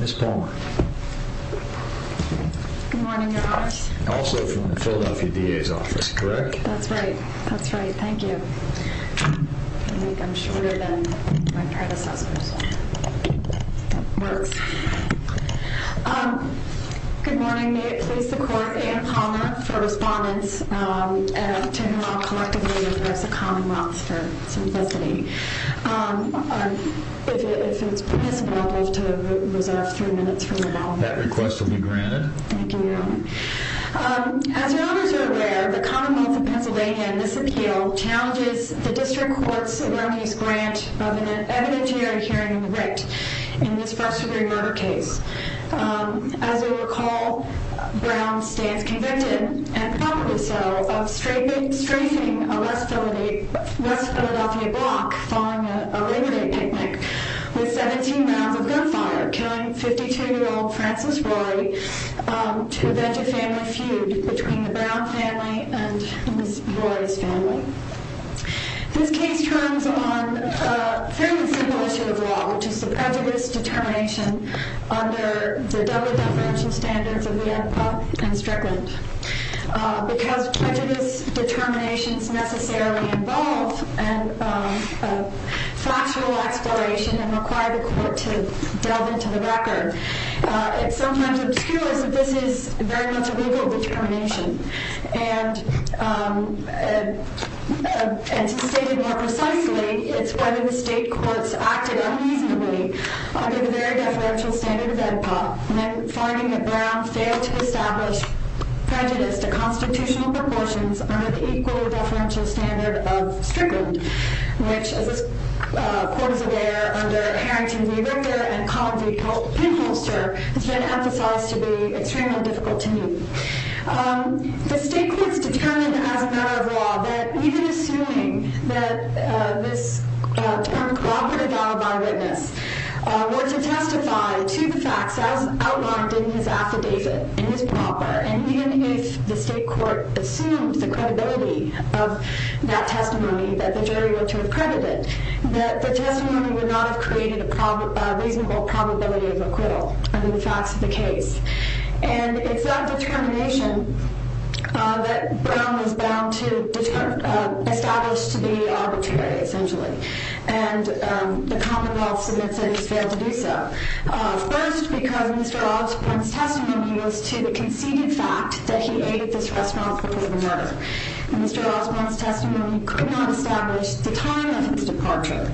Ms. Palmer. Also from the Philadelphia D.A.'s office, correct? That's right. That's right. Thank you. I think I'm shorter than my predecessors. That works. Good morning. May it please the respondents to hear how collectively we address the commonwealth for simplicity. If it's possible, I'd love to reserve a few minutes from now. That request will be granted. Thank you. As your honors are aware, the commonwealth of Pennsylvania in this appeal challenges the district court's responsibility, and probably so, of strafing a West Philadelphia block following a late-night picnic with 17 rounds of gunfire, killing 52-year-old Francis Rory to because prejudice determinations necessarily involve factual exploration and require the court to delve into the record. It sometimes obscures that this is very much a legal determination, and to state it more precisely, it's whether the state courts acted uneasily under the very deferential standard of NPOP, finding that Brown failed to establish prejudice to constitutional proportions under the equally deferential standard of Strickland, which, as this court is aware, under Harrington v. Richter and Collin v. Pinholster has been emphasized to be extremely difficult to meet. The state courts determined as a matter of law that even assuming that this term were to testify to the facts as outlined in his affidavit in his proper, and even if the state court assumed the credibility of that testimony that the jury were to have credited, that the testimony would not have created a reasonable probability of acquittal under the facts of the case. And it's that determination that Brown was bound to establish to be arbitrary, essentially. And the Commonwealth submits that he's failed to do so. First, because Mr. Osborne's testimony was to the conceded fact that he ate at this restaurant before the murder. Mr. Osborne's testimony could not establish the time of his departure.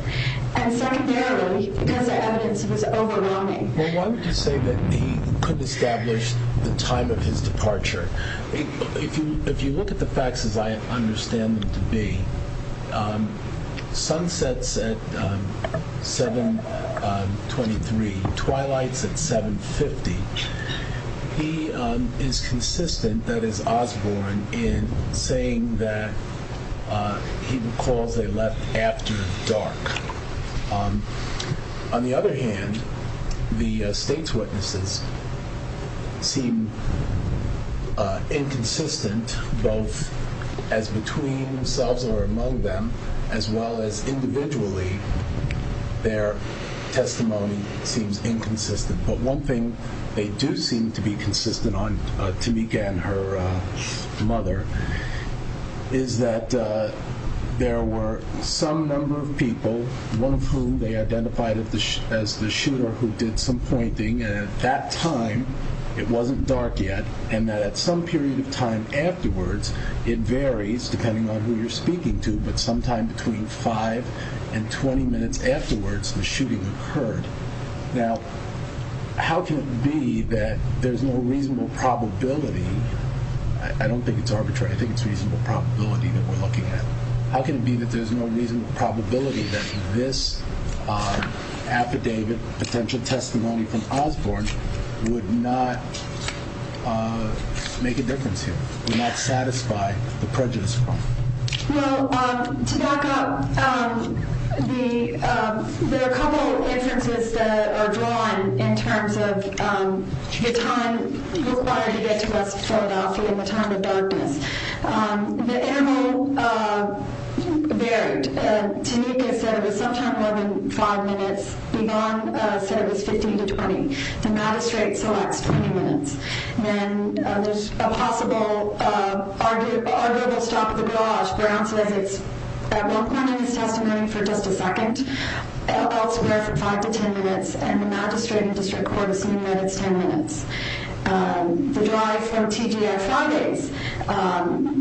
And secondarily, because the evidence was overwhelming. Well, why would you say that he could establish the time of his departure? If you look at the facts as I understand them to be, sunsets at 723, twilights at 750, he is consistent, that is Osborne, in saying that he recalls they left after dark. On the other hand, the state's witnesses seem inconsistent, both as between themselves or among them, as well as individually, their testimony seems inconsistent. But one thing they do seem to be consistent on, Tamika and her mother, is that there were some number of people, one of whom they identified as the shooter who did some pointing, and at that time, it wasn't dark yet, and that at some period of time afterwards, it varies depending on who you're speaking to, but sometime between 5 and 20 minutes afterwards, the shooting occurred. Now, how can it be that there's no reasonable probability, I don't think it's arbitrary, I think it's reasonable probability that we're looking at, how can it be that there's no reasonable probability that this affidavit, potential testimony from Osborne, would not make a difference here, would not satisfy the prejudice? Well, to back up, there are a couple of inferences that are drawn in terms of the time required to get to West Philadelphia in the time of darkness. The interval varied, Tamika said it was sometime more than 5 minutes, Ligon said it was 15 to 20, the magistrate selects 20 minutes, then there's a possible arguable stop of the barrage, Brown says it's at one point in his testimony for just a second, elsewhere from 5 to 10 minutes, and the magistrate and district court assume that it's 10 minutes. The drive from TGF Fridays,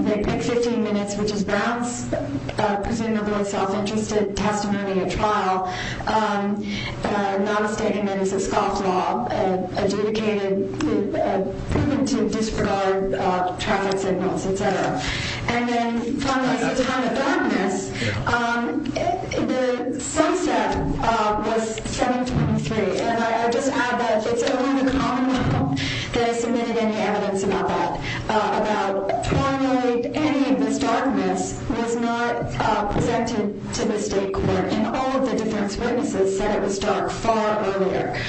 they pick 15 minutes, which is Brown's, presumably self-interested testimony at trial, not a statement, it's a scoff law, and adjudicated to disregard traffic signals, etc. And then, finally, at the time of darkness, the sunset was 7.23, and I just add that it's only the common law that has submitted any evidence about that, about finally, any of this darkness was not presented to the state court, and all of the defense witnesses said it was dark far earlier.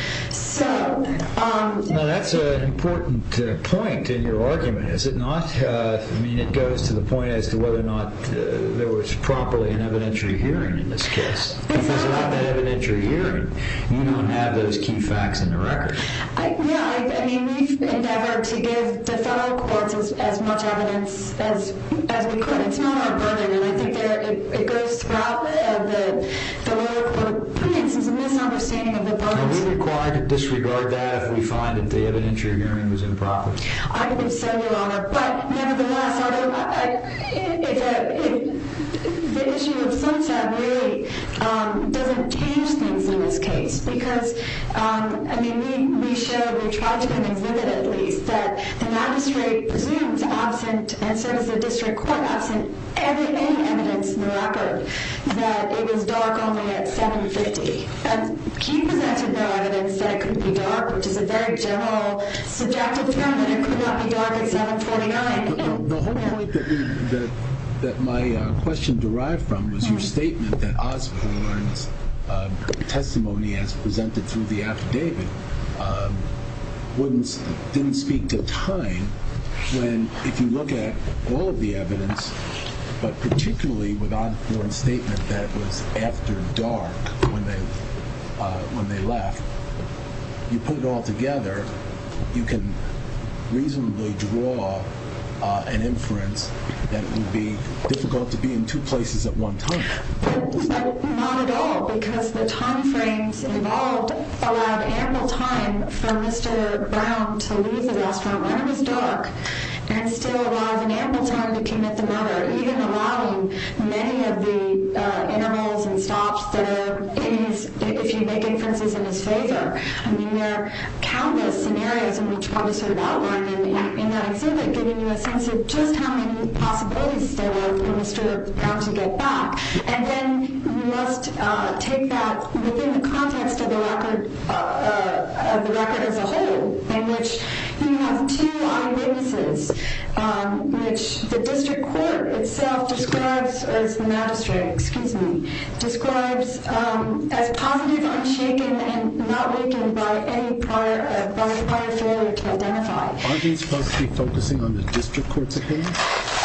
Now that's an important point in your argument, is it not? I mean, it goes to the point as to whether or not there was properly an evidentiary hearing in this case. If there's not an evidentiary hearing, you don't have those key facts in the record. Yeah, I mean, we've endeavored to give the federal courts as much evidence as we could. It's not our burden, and I think it goes throughout the lower court of appeals. It's a misunderstanding of the burden. Are we required to disregard that if we find that the evidentiary hearing was improper? I think so, Your Honor, but nevertheless, the issue of sunset really doesn't change things in this case, because, I mean, we showed, we tried to kind of exhibit, at least, that the magistrate presumes absent, and so does the district court, absent any evidence in the record that it was dark only at 7.50. He presented no evidence that it could be dark, which is a very general subjective term, that it could not be dark at 7.49. The whole point that my question derived from was your statement that Osborne's testimony as presented through the affidavit didn't speak to time when, if you look at all of the evidence, but particularly with Osborne's statement that it was after dark when they left, you put it all together, you can reasonably draw an inference that it would be difficult to be in two places at one time. But not at all, because the time frames involved allowed ample time for Mr. Brown to leave the restaurant when it was dark, and still allowed an ample time to come at the murder, even allowing many of the intervals and stops that are in his, if you make inferences in his favor. I mean, there are countless scenarios, and we tried to sort of outline them in that exhibit, giving you a sense of just how many possibilities there were for Mr. Brown to get back. And then you must take that within the context of the record as a whole, in which you have two eyewitnesses, which the district court itself describes as the magistrate, excuse me, describes as positive, unshaken, and not weakened by any prior failure to identify. Aren't you supposed to be focusing on the district court's opinion?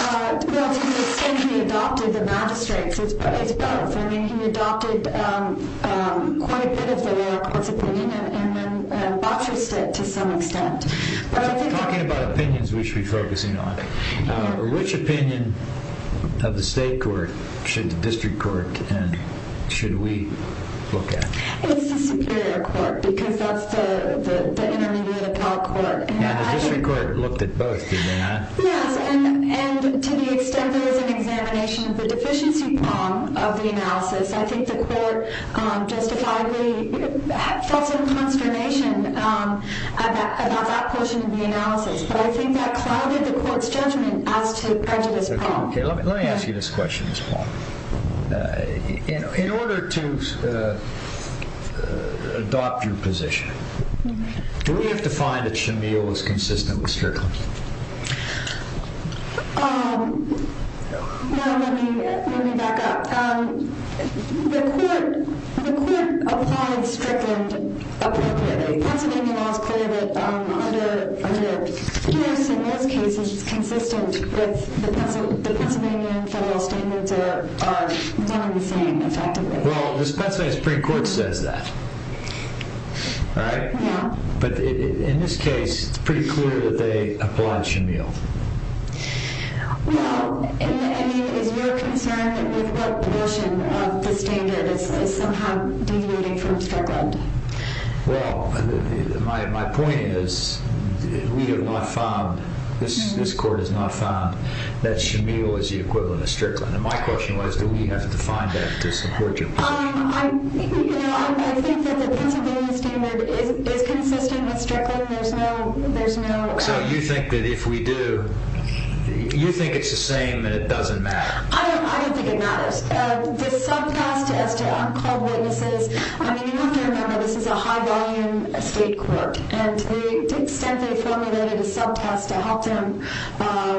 Well, to the extent he adopted the magistrate's, it's both. I mean, he adopted quite a bit of the lower court's opinion, and then botched it to some extent. Talking about opinions we should be focusing on. Which opinion of the state court should the district court, and should we look at? It's the superior court, because that's the intermediate appellate court. And the district court looked at both, did they not? Yes, and to the extent there was an examination of the deficiency of the analysis, I think the court justifiedly felt some consternation about that portion of the analysis. But I think that clouded the court's judgment as to prejudice problem. Okay, let me ask you this question, Ms. Palmer. In order to adopt your position, do we have to find that Shamil is consistent with Strickland? No, let me back up. The court applied Strickland appropriately. Pennsylvania law is clear that under Pierce, in most cases, consistent with the Pennsylvania federal standards are none of the same, effectively. Well, this Pennsylvania Supreme Court says that, right? Yeah. But in this case, it's pretty clear that they applied Shamil. Well, I mean, is your concern with what portion of the standard is somehow diluting from Strickland? Well, my point is, we have not found, this court has not found that Shamil is the equivalent of Strickland. And my question was, do we have to find that to support you? I think that the Pennsylvania standard is consistent with Strickland. There's no doubt. So you think that if we do, you think it's the same and it doesn't matter? I don't think it matters. The sub-test as to uncalled witnesses, I mean, you have to remember, this is a high-volume state court. And to the extent they formulated a sub-test to help them.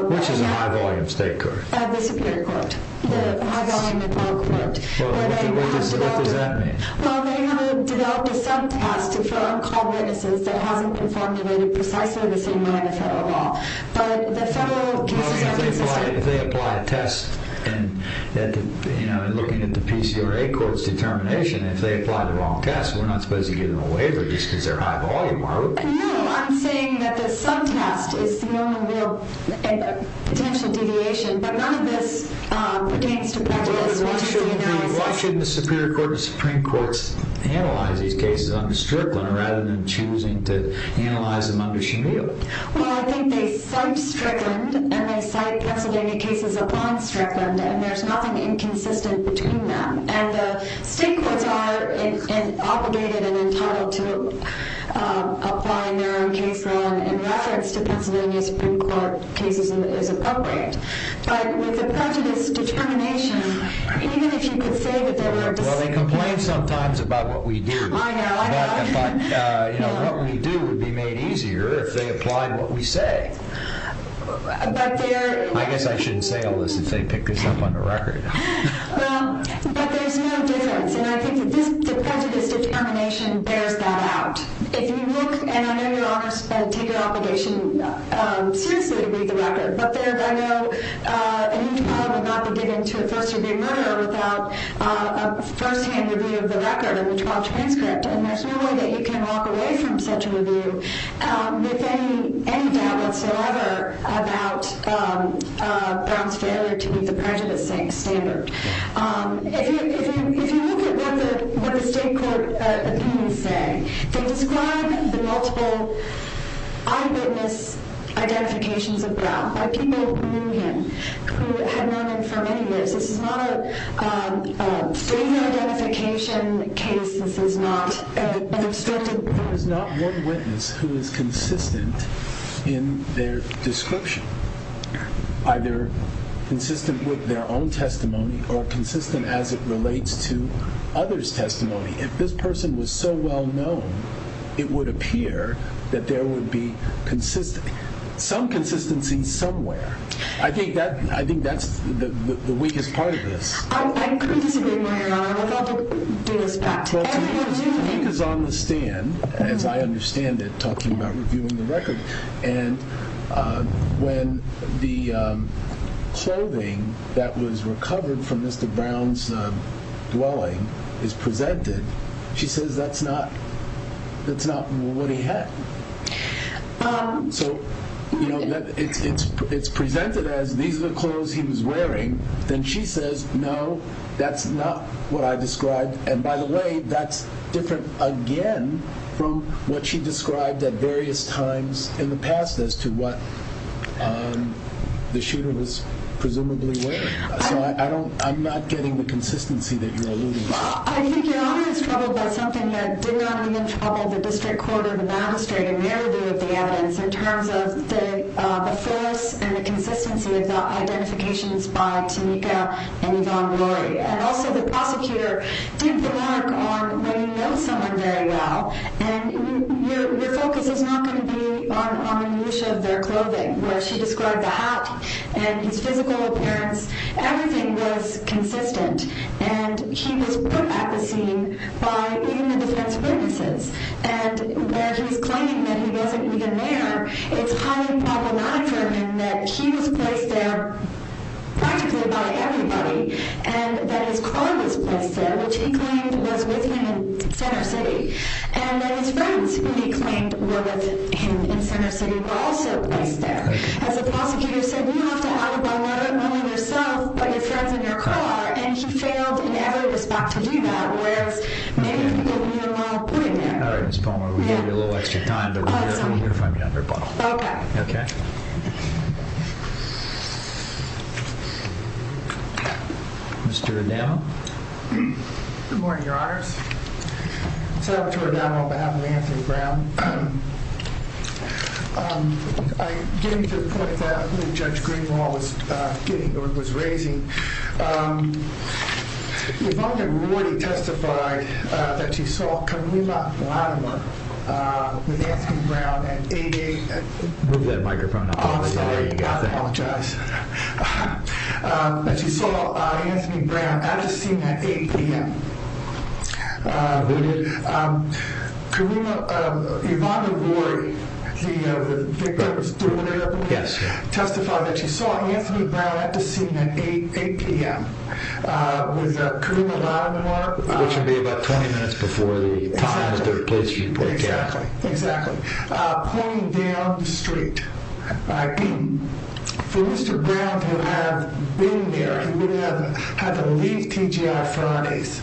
Which is a high-volume state court? The Superior Court. The high-volume federal court. What does that mean? Well, they haven't developed a sub-test for uncalled witnesses that hasn't been formulated precisely the same way in the federal law. But the federal cases are consistent. If they apply a test, and looking at the PCRA court's determination, if they apply the wrong test, we're not supposed to give them a waiver just because they're high-volume, are we? No, I'm saying that the sub-test is the only real potential deviation. But none of this pertains to prejudice. Why shouldn't the Superior Court and the Supreme Court analyze these cases under Strickland, rather than choosing to analyze them under Shamil? Well, I think they cite Strickland, and they cite Pennsylvania cases upon Strickland, and there's nothing inconsistent between them. And the state courts are obligated and entitled to applying their own case law in reference to Pennsylvania Supreme Court cases as appropriate. But with the prejudice determination, even if you could say that there were... Well, they complain sometimes about what we do. I know, I know. But, you know, what we do would be made easier if they applied what we say. But there... I guess I shouldn't say all this if they pick this up on the record. Well, but there's no difference. And I think that the prejudice determination bears that out. If you look... And I know Your Honor take your obligation seriously to read the record, but there, I know, an e-trial would not be given to a first-degree murderer without a firsthand review of the record and the trial transcript. And there's no way that you can walk away from such a review with any doubt whatsoever about Brown's failure to meet the prejudice standard. If you look at what the state court opinions say, they describe the multiple eyewitness identifications of Brown by people who knew him, who had known him for many years. This is not a failure identification case. This is not an obstructed... There is not one witness who is consistent in their description, either consistent with their own testimony or consistent as it relates to others' testimony. If this person was so well-known, it would appear that there would be some consistency somewhere. I think that's the weakest part of this. I agree with you, Your Honor. I would have to do this back to everybody. The weak is on the stand, as I understand it, talking about reviewing the record. And when the clothing that was recovered from Mr. Brown's dwelling is presented, she says that's not what he had. So it's presented as these are the clothes he was wearing. Then she says, no, that's not what I described. And by the way, that's different again from what she described at various times in the past as to what the shooter was presumably wearing. So I'm not getting the consistency that you're alluding to. I think Your Honor is troubled by something that did not leave in trouble the district court or the magistrate in their view of the evidence in terms of the force and the consistency of the identifications by Tamika and Yvonne Rory. And also the prosecutor did the work on when you know someone very well and your focus is not going to be on the use of their clothing, where she described the hat and his physical appearance. Everything was consistent. And he was put at the scene by even the defense witnesses. And where he's claiming that he wasn't even there, it's highly problematic for him that he was placed there practically by everybody and that his car was placed there, which he claimed was with him in Center City, and that his friends, who he claimed were with him in Center City, were also placed there. As the prosecutor said, you have to alibi not only yourself, but your friends and your car. And he failed in every respect to do that, whereas maybe he didn't even want to put him there. All right, Ms. Palmer, we gave you a little extra time, but we're here to find the other bottle. Okay. Mr. O'Donnell? Good morning, Your Honors. Senator O'Donnell, on behalf of Anthony Brown. Getting to the point that Judge Greenwald was raising, Yvonne had already testified that she saw Camila Blattimer with Anthony Brown at 8 a.m. Move that microphone out of the way. I apologize. That she saw Anthony Brown at the scene at 8 p.m. Who did? Yvonne O'Rourke, the victim's daughter. Yes. Testified that she saw Anthony Brown at the scene at 8 p.m. With Camila Blattimer. Which would be about 20 minutes before the time and the place you broke down. Exactly. Pointing down the street. For Mr. Brown to have been there, he would have had to leave TGI Fridays.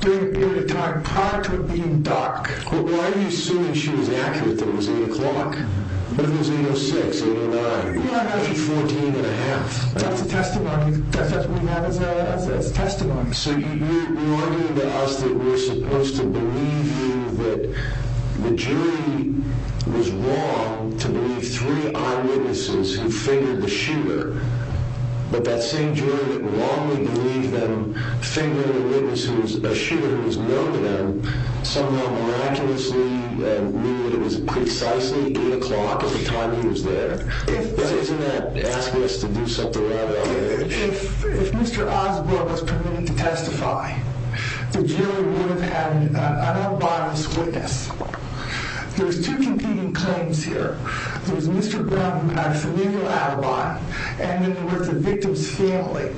During a period of time prior to it being dark. Well, why are you assuming she was accurate that it was 8 o'clock? It was 8.06, 8.09. Well, I got you 14 and a half. That's a testimony. That's what we have as testimony. So you argue that we're supposed to believe you that the jury was wrong to believe three eyewitnesses who fingered the shooter. But that same jury that wrongly believed them fingered a witness who was a shooter who was known to them. Somehow miraculously knew that it was precisely 8 o'clock at the time he was there. Isn't that asking us to do something out of our edge? If Mr. Osborne was permitted to testify, the jury would have had an unbiased witness. There's two competing claims here. There's Mr. Brown, a familial alibi. And then there was the victim's family,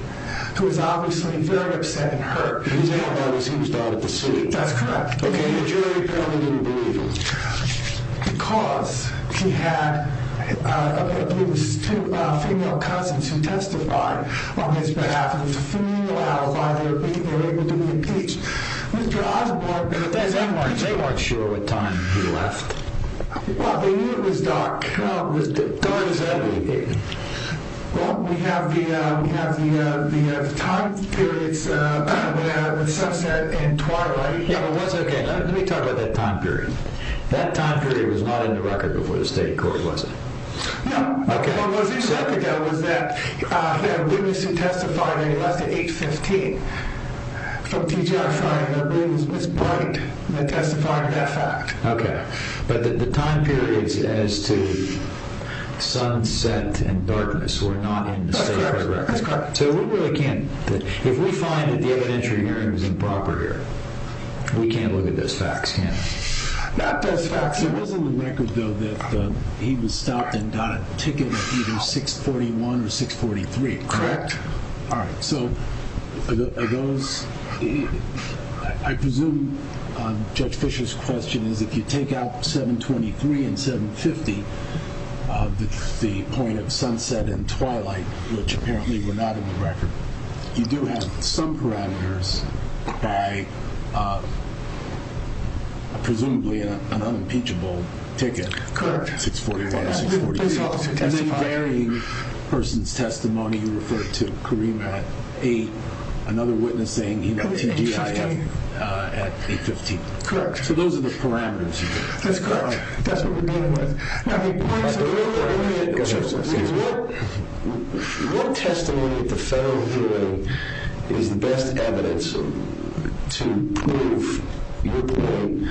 who was obviously very upset and hurt. His family, he was died at the scene. That's correct. Okay, the jury apparently didn't believe him. Because he had two female cousins who testified on his behalf. It was a familial alibi. They were able to be impeached. Mr. Osborne. They weren't sure what time he left. Well, they knew it was dark. Dark as ever. Well, we have the time periods, the sunset and twilight. Let me talk about that time period. That time period was not in the record before the state court, was it? No. Okay. What they said was that the witness who testified at 8.15 from TGI Friday, that witness was bright in the testifying of that fact. Okay. But the time periods as to sunset and darkness were not in the state court record. That's correct. So we really can't, if we find that the evidentiary hearing was improper here, we can't look at those facts, can we? Not those facts. It was in the record, though, that he was stopped and got a ticket at either 6.41 or 6.43, correct? Correct. All right. So are those, I presume Judge Fisher's question is if you take out 7.23 and 7.50, the point of sunset and twilight, which apparently were not in the record, you do have some parameters by presumably an unimpeachable ticket. Correct. 6.41 or 6.43. And then varying person's testimony, you referred to Kareem at 8, another witness saying he went to TGI at 8.15. Correct. So those are the parameters. That's correct. What testimony at the federal hearing is the best evidence to prove your point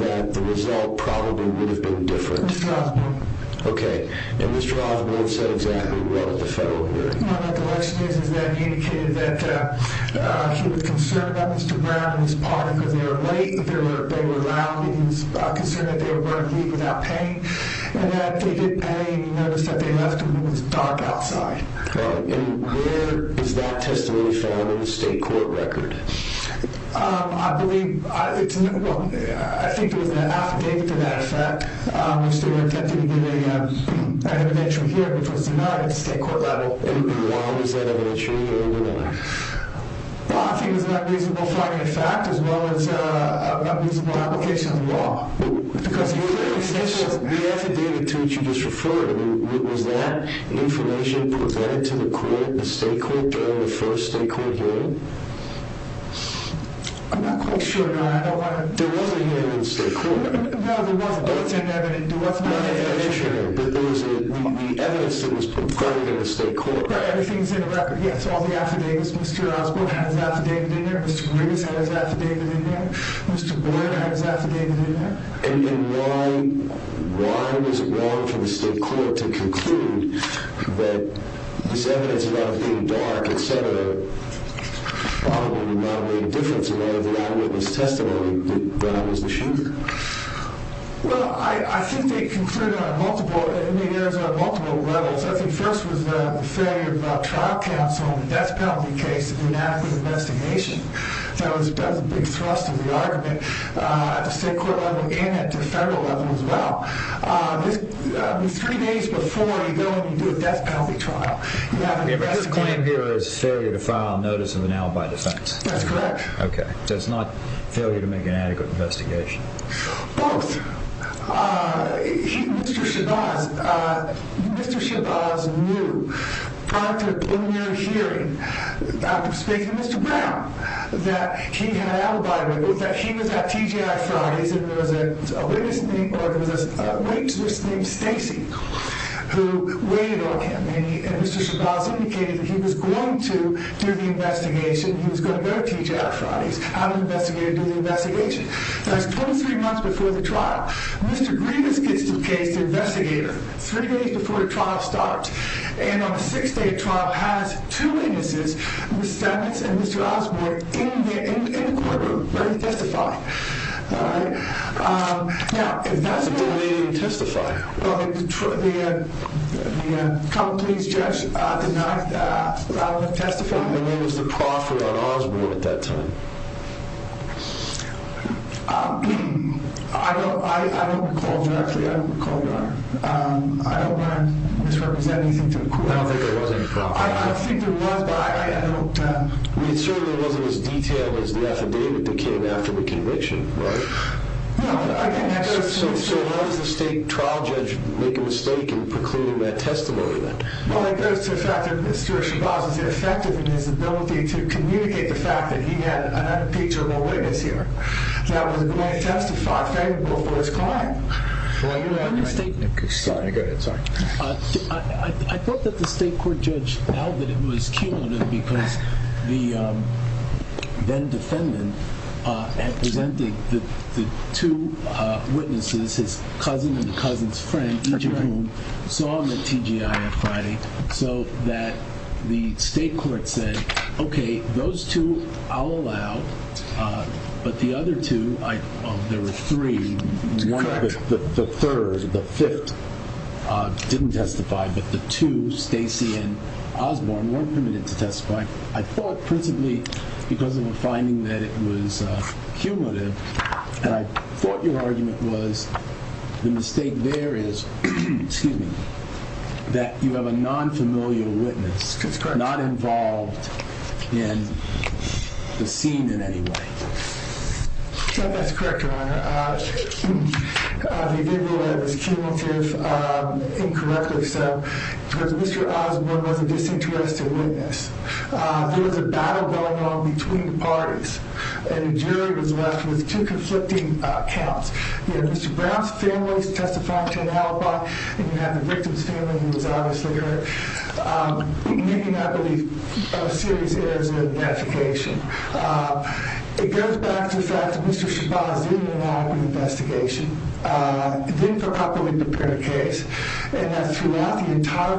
that the result probably would have been different? Mr. Osborne. Okay. And Mr. Osborne said exactly what at the federal hearing. The election is that he indicated that he was concerned about Mr. Brown and his partner because they were late, they were loud, he was concerned that they were going to leave without paying, and that they didn't pay and he noticed that they left and it was dark outside. And where is that testimony found in the state court record? I believe, well, I think it was an affidavit to that effect, which they were attempting to get an inventory here, which was denied at the state court level. And why was that inventory denied? Well, I think it was an unreasonable finding of fact as well as an unreasonable application of the law. The affidavit to which you just referred, was that information presented to the court, the state court, during the first state court hearing? I'm not quite sure. There was a hearing in the state court. No, there wasn't. That's inevitable. The evidence that was provided in the state court. Everything is in the record, yes. All the affidavits, Mr. Osborne has an affidavit in there, Mr. Riggs has an affidavit in there, Mr. Boyd has an affidavit in there. And why was it wrong for the state court to conclude that this evidence about it being dark, et cetera, probably would not have made a difference in light of the eyewitness testimony that I was the shooter? Well, I think they concluded on multiple, and I think there was on multiple levels. I think first was the failure of trial counsel to hold a death penalty case in an adequate investigation. That was a big thrust of the argument at the state court level and at the federal level as well. Three days before you go and you do a death penalty trial, you have an investigation. The claim here is failure to file notice of an alibi defense. That's correct. Okay. So it's not failure to make an adequate investigation. Both. Mr. Shabazz knew. Prior to a preliminary hearing, after speaking to Mr. Brown, that he had an alibi, that he was at TGI Fridays and there was a witness named, or there was a witness named Stacy who waited on him. And Mr. Shabazz indicated that he was going to do the investigation. He was going to go to TGI Fridays. I'm an investigator, do the investigation. So that's 23 months before the trial. Mr. Grievous gets to the case, the investigator, three days before the trial starts. And on the sixth day of trial, has two witnesses, Mr. Stamets and Mr. Osborne, in the courtroom ready to testify. All right. Now, if that's what... They didn't even testify. Well, the common pleas judge did not allow them to testify. And there was a proffering on Osborne at that time. I don't recall directly. I don't recall, Your Honor. I don't want to misrepresent anything to the court. I don't think there was any proffering. I don't think there was, but I don't... It certainly wasn't as detailed as the affidavit that came after the conviction, right? No. So how does the state trial judge make a mistake in precluding that testimony then? Well, it goes to the fact that Mr. Shabazz is ineffective in his ability to communicate the fact that he had an unimpeachable witness here that was going to testify favorable for his client. Go ahead. I thought that the state court judge held that it was cumulative because the then-defendant had presented the two witnesses, his cousin and the cousin's friend, each of whom saw him at TGI on Friday, so that the state court said, okay, those two I'll allow, but the other two... Well, there were three. The third, the fifth, didn't testify, but the two, Stacy and Osborne, weren't permitted to testify. I thought principally because of a finding that it was cumulative, and I thought your argument was the mistake there is that you have a non-familial witness, not involved in the scene in any way. I thought that's correct, Your Honor. The idea that it was cumulative, incorrectly so, because Mr. Osborne was a disinterested witness. There was a battle going on between the parties, and a jury was left with two conflicting counts. You had Mr. Brown's family testifying to an alibi, and you had the victim's family, who was obviously making, I believe, serious errors in their notification. It goes back to the fact that Mr. Shabazz did an alibi investigation. He didn't properly prepare the case, and that throughout the entire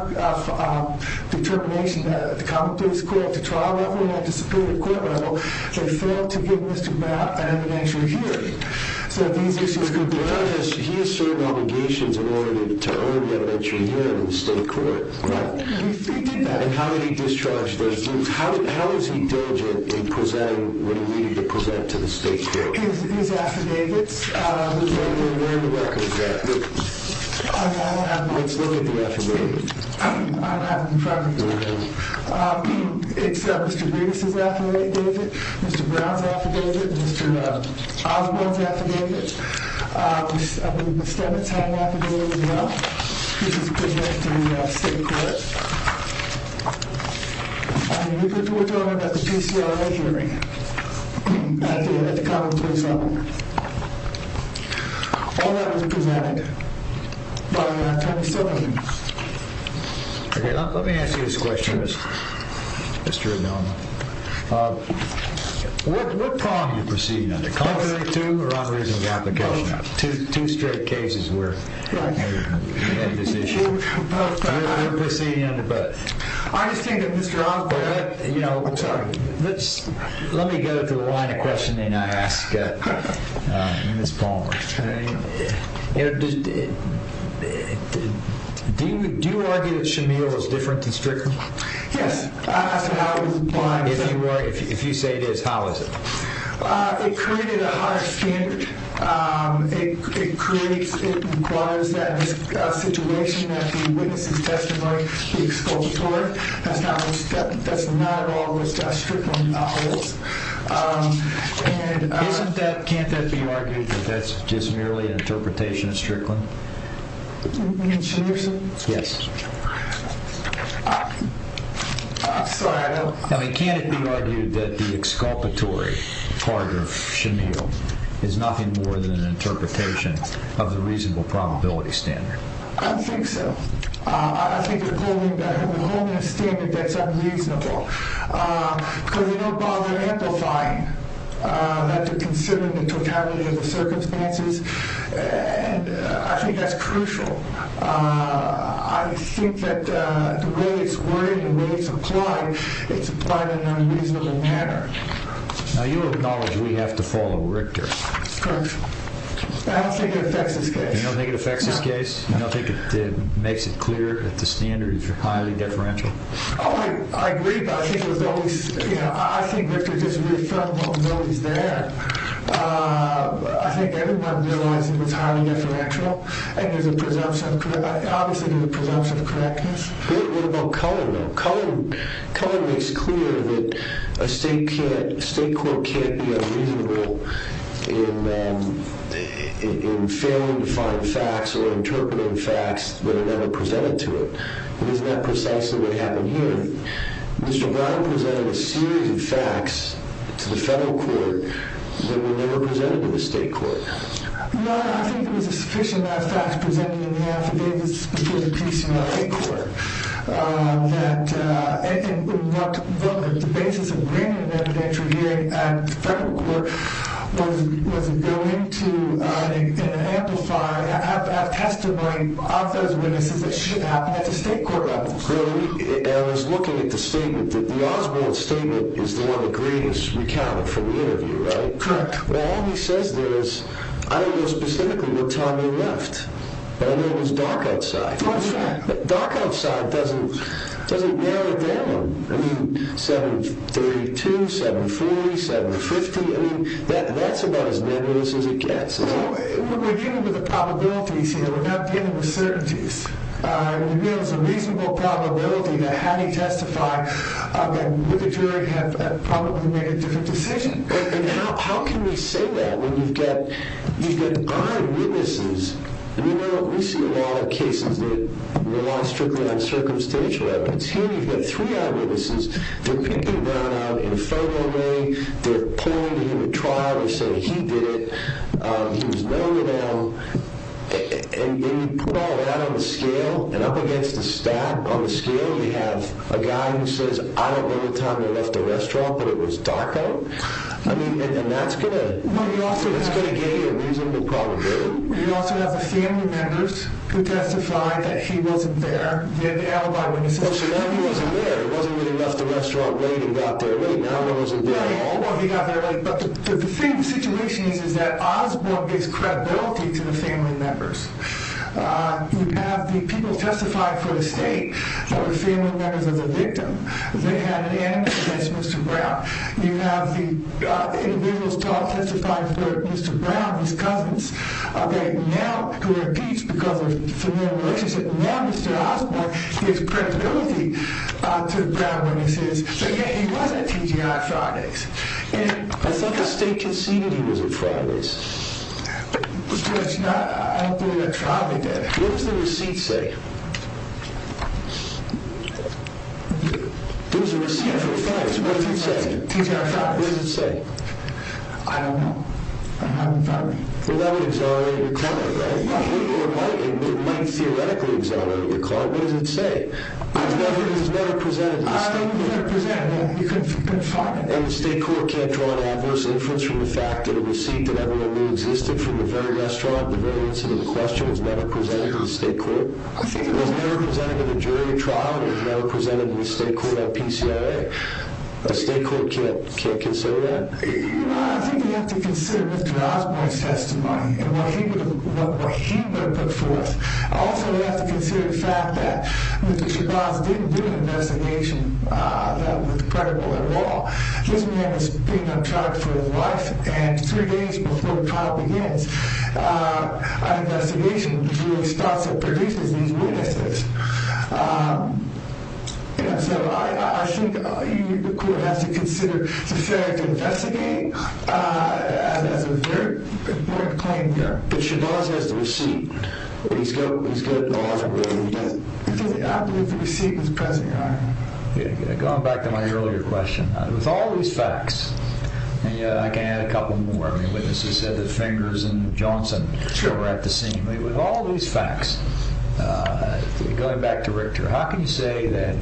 determination that the commonplace court, the trial level, and the disciplinary court level, they failed to give Mr. Brown an evidentiary hearing. So these issues could be... Mr. Brown, he has certain obligations in order to earn the evidentiary hearing in the state court. He did that. How did he discharge those duties? How is he diligent in presenting what he needed to present to the state court? His affidavits. Where are the records at? I don't have them. Let's look at the affidavits. I don't have them in front of me. You don't have them? It's Mr. Breedis' affidavit. Mr. Brown's affidavit. Mr. Osborne's affidavit. I believe Mr. Stemmett's had an affidavit as well, which was presented to the state court. I believe it was delivered at the PCRI hearing at the common place level. All that was presented by 2017. Okay, let me ask you this question, Mr. O'Donnell. What prong are you proceeding under? Confident two or unreasonable application? Two straight cases where you had this issue. What are you proceeding under? I understand that Mr. Osborne... I'm sorry. Let me go to the line of questioning I asked Ms. Palmer. Do you argue that Shamil was different than Strickland? Yes. If you say it is, how is it? It created a higher standard. It requires that the situation that the witness is testifying, the exculpatory, that's not at all what Strickland holds. Can't that be argued that that's just merely an interpretation of Strickland? In Shamil's case? Yes. Sorry, I don't... Can it be argued that the exculpatory part of Shamil is nothing more than an interpretation of the reasonable probability standard? I don't think so. I think you're holding a standard that's unreasonable because you don't bother amplifying that you're considering the totality of the circumstances. I think that's crucial. I think that the way it's worded and the way it's applied, it's applied in an unreasonable manner. Now, you acknowledge we have to follow Richter. Correct. I don't think it affects this case. You don't think it affects this case? No. You don't think it makes it clear that the standard is highly deferential? I agree, but I think it was always... I think Richter just reaffirmed what was there. I think everyone realized it was highly deferential and there's a presumption of... Obviously, there's a presumption of correctness. What about color, though? Color makes clear that a state court can't be unreasonable in failing to find facts or interpreting facts that are never presented to it. Isn't that precisely what happened here? Mr. Brown presented a series of facts to the federal court that were never presented to the state court. No, I think there was a sufficient amount of facts presented in the affidavits before the PCA court that the basis of bringing an evidentiary hearing at the federal court was to go into an amplifier, have testimony of those witnesses that shouldn't happen at the state court level. I was looking at the statement. The Oswald statement is the one that Green has recounted from the interview, right? Correct. All he says there is, I don't know specifically what time he left, but I know it was dark outside. That's right. Dark outside doesn't narrow it down. I mean, 732, 740, 750. I mean, that's about as nebulous as it gets. We're dealing with the probabilities here. We're not dealing with certainties. There's a reasonable probability that had he testified, the jury would have probably made a different decision. How can you say that when you've got eyewitnesses? I mean, we see a lot of cases that rely strictly on circumstantial evidence. Here, you've got three eyewitnesses. They're picking Brown out in a photo way. They're pointing him at trial and saying he did it. He was known to them. And then you put all that on the scale, and up against the stack on the scale, you have a guy who says, I don't know the time they left the restaurant, but it was dark out. I mean, and that's going to give you a reasonable probability. You also have the family members who testified that he wasn't there. Well, so now he wasn't there. He wasn't really left the restaurant late and got there late. Now he wasn't there at all. Well, he got there late. But the thing, the situation is that Osborne gives credibility to the family members. You have the people who testified for the state that the family members are the victim. They had an interest in Mr. Brown. You have the individuals who all testified for Mr. Brown, his cousins, who were impeached because of familial relationship. Now Mr. Osborne gives credibility to Brown when he says, yeah, he was at TGI Friday's. And I thought the state conceded he was at Friday's. I don't believe that trial they did. What does the receipt say? There was a receipt for Friday's. What does it say? TGI Friday's. What does it say? I don't know. I'm not involved. Well, that would exonerate your client, right? It might theoretically exonerate your client. What does it say? It was never presented to the state court. It was never presented. You couldn't find it. And the state court can't draw an adverse inference from the fact that a receipt that everyone knew existed from the very restaurant, the very incident in question, was never presented to the state court? I think it was. It was never presented in a jury trial. It was never presented to the state court at PCIA. The state court can't consider that? I think we have to consider Mr. Osborne's testimony and what he would have put forth. Also, we have to consider the fact that Mr. Shabazz didn't do an investigation that was credible at all. This man is being on trial for his life, and three days before trial begins, an investigation with the jury starts and produces these witnesses. So I think the court has to consider the fact to investigate, as a very important claim here, that Shabazz has the receipt. But he's good at the law. I believe the receipt was present, Your Honor. Going back to my earlier question, with all these facts, and I can add a couple more. I mean, witnesses said that Fingers and Johnson were at the scene. With all these facts, going back to Richter, how can you say that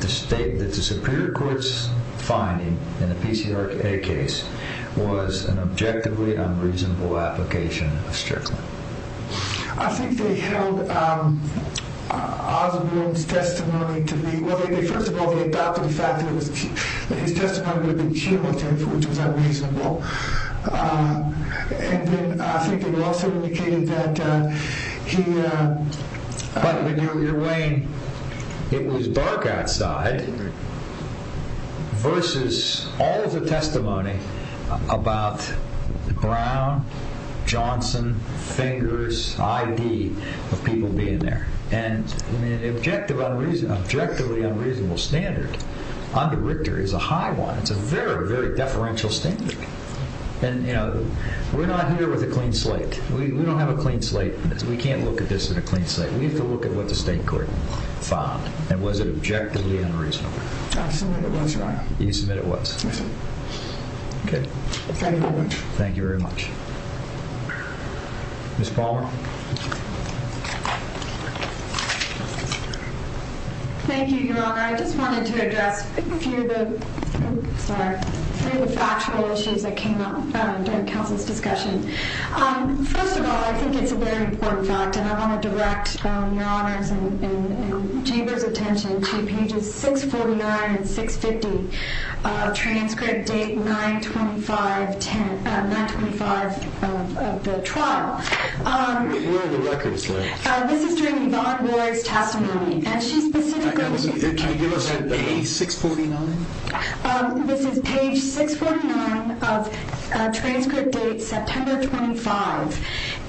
the Superior Court's finding in the PCIA case was an objectively unreasonable application of Strickland? I think they held Osborne's testimony to be... Well, first of all, they adopted the fact that his testimony would have been cumulative, which was unreasonable. And then I think it also indicated that he... But you're weighing it was dark outside versus all of the testimony about Brown, Johnson, Fingers, I.D. of people being there. And an objectively unreasonable standard under Richter is a high one. It's a very, very deferential standard. And we're not here with a clean slate. We don't have a clean slate. We can't look at this in a clean slate. We have to look at what the State Court found. And was it objectively unreasonable? I submit it was, Your Honor. You submit it was? Yes, sir. Okay. Thank you very much. Thank you very much. Ms. Palmer? Thank you, Your Honor. I just wanted to address a few of the... Sorry. A few of the factual issues that came up during counsel's discussion. First of all, I think it's a very important fact, and I want to direct Your Honor's and Jaber's attention to pages 649 and 650, transcript date 925 of the trial. Where are the records, though? This is during Yvonne Ward's testimony, and she specifically... Can you give us page 649? This is page 649 of transcript date September 25,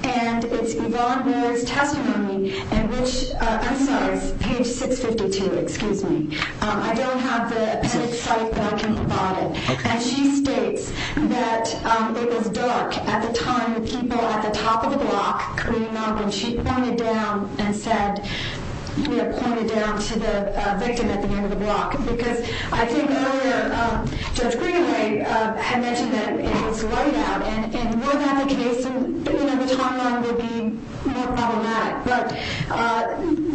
and it's Yvonne Ward's testimony in which... I'm sorry. It's page 652. Excuse me. I don't have the appended cite, but I can provide it. And she states that it was dark at the time when people at the top of the block came up, and she pointed down and said... Pointed down to the victim at the end of the block, because I think earlier Judge Greenway had mentioned that it was light out, and we'll have the case, and the timeline would be more problematic.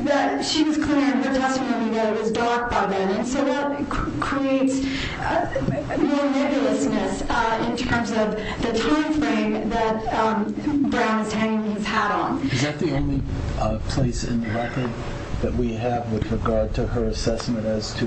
But she was clear in her testimony that it was dark by then, and so that creates more nebulousness in terms of the time frame that Brown is hanging his hat on. Is that the only place in the record that we have with regard to her assessment as to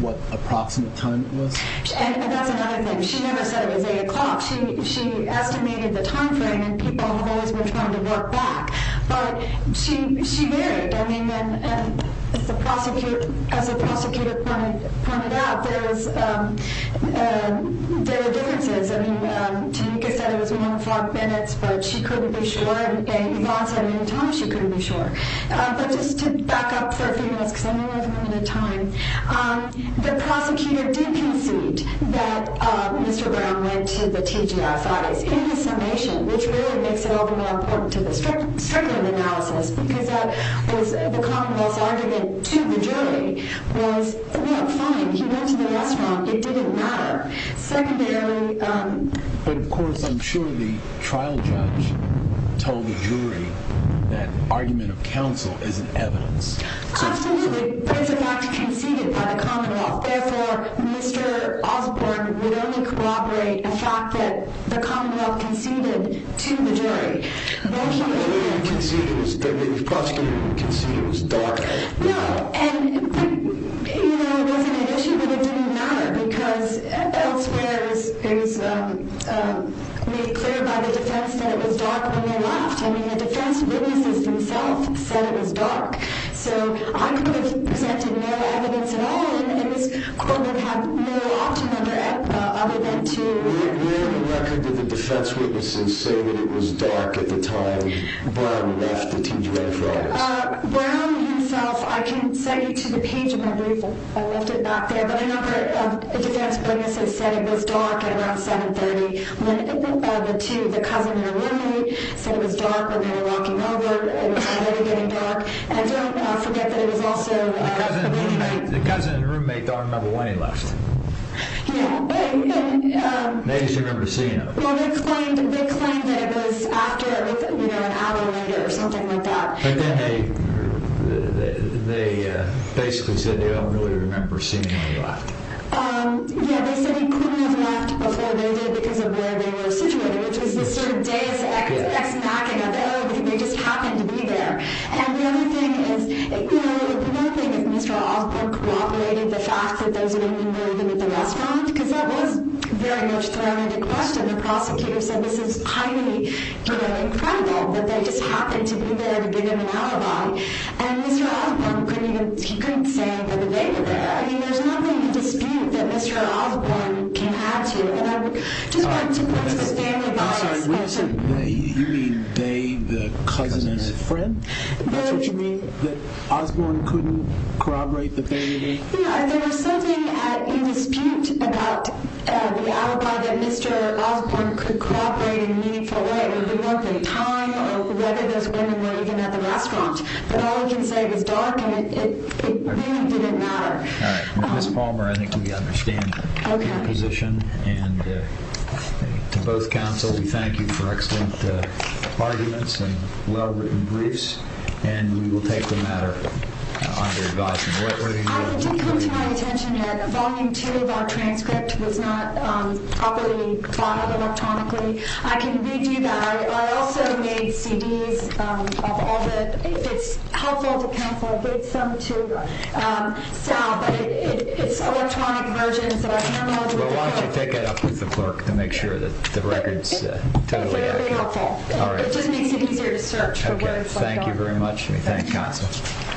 what approximate time it was? And that's another thing. She never said it was 8 o'clock. She estimated the time frame, and people have always been trying to work back. But she varied. I mean, as the prosecutor pointed out, there are differences. I mean, Tanika said it was 1 o'clock minutes, but she couldn't be sure, and Yvonne said at any time she couldn't be sure. But just to back up for a few minutes, because I only have a minute of time, the prosecutor did concede that Mr. Brown went to the TGIFIs in his summation, which really makes it all the more important to the Strickland analysis, because the commonwealth's argument to the jury was, you know, fine, he went to the restaurant. It didn't matter. Secondarily... But, of course, I'm sure the trial judge told the jury that argument of counsel isn't evidence. Absolutely. But it's a fact conceded by the commonwealth. Therefore, Mr. Osborne would only corroborate a fact that the commonwealth conceded to the jury. But he didn't... The way he conceded, the way the prosecutor conceded was dark. No, and, you know, it wasn't an issue, but it didn't matter, because elsewhere it was made clear by the defense that it was dark when they left. I mean, the defense witnesses themselves said it was dark. So I could have presented no evidence at all, and Ms. Corbin had no option other than to... Where in the record did the defense witnesses say that it was dark at the time Brown left the TGIFs? Brown himself... I can send you to the page of my brief. I left it back there. But a number of defense witnesses said it was dark at around 7.30 when the two, the cousin and roommate, said it was dark when they were walking over. It was already getting dark. And don't forget that it was also... The cousin and roommate don't remember when he left. Yeah. They just remember seeing him. Well, they claimed that it was after, you know, an hour later or something like that. But then they basically said they don't really remember seeing him left. Yeah. They said he couldn't have left before they did because of where they were situated, which was this sort of deus ex machina. Oh, they just happened to be there. And the other thing is, you know, the other thing is Mr. Alford cooperated the fact that those of him were even at the restaurant because that was very much thrown into question. The prosecutor said this is highly, you know, incredible that they just happened to be there to give him an alibi. And Mr. Osborne couldn't even... He couldn't say that they were there. I mean, there's nothing in dispute that Mr. Osborne can have to. And I would just want to point to the family bias. I'm sorry. Wait a second. You mean they, the cousin, and his friend? That's what you mean? That Osborne couldn't corroborate the family? Yeah. There was something in dispute about the alibi that Mr. Osborne could corroborate in a meaningful way. I don't know whether it would be worth the time or whether those women were even at the restaurant. But all I can say is, Doc, it really didn't matter. All right. Ms. Palmer, I think we understand your position. And to both counsel, we thank you for excellent arguments and well-written briefs. And we will take the matter under advice. I did come to my attention that volume two of our transcript was not properly filed electronically. I can read you that. I also made CDs of all the, if it's helpful to counsel, I've read some to Sal, but it's electronic versions that I can't remember. Well, why don't you take that up with the clerk to make sure that the record's totally accurate. It's very helpful. It just makes it easier to search for words like that. Okay. Thank you very much. And we thank counsel.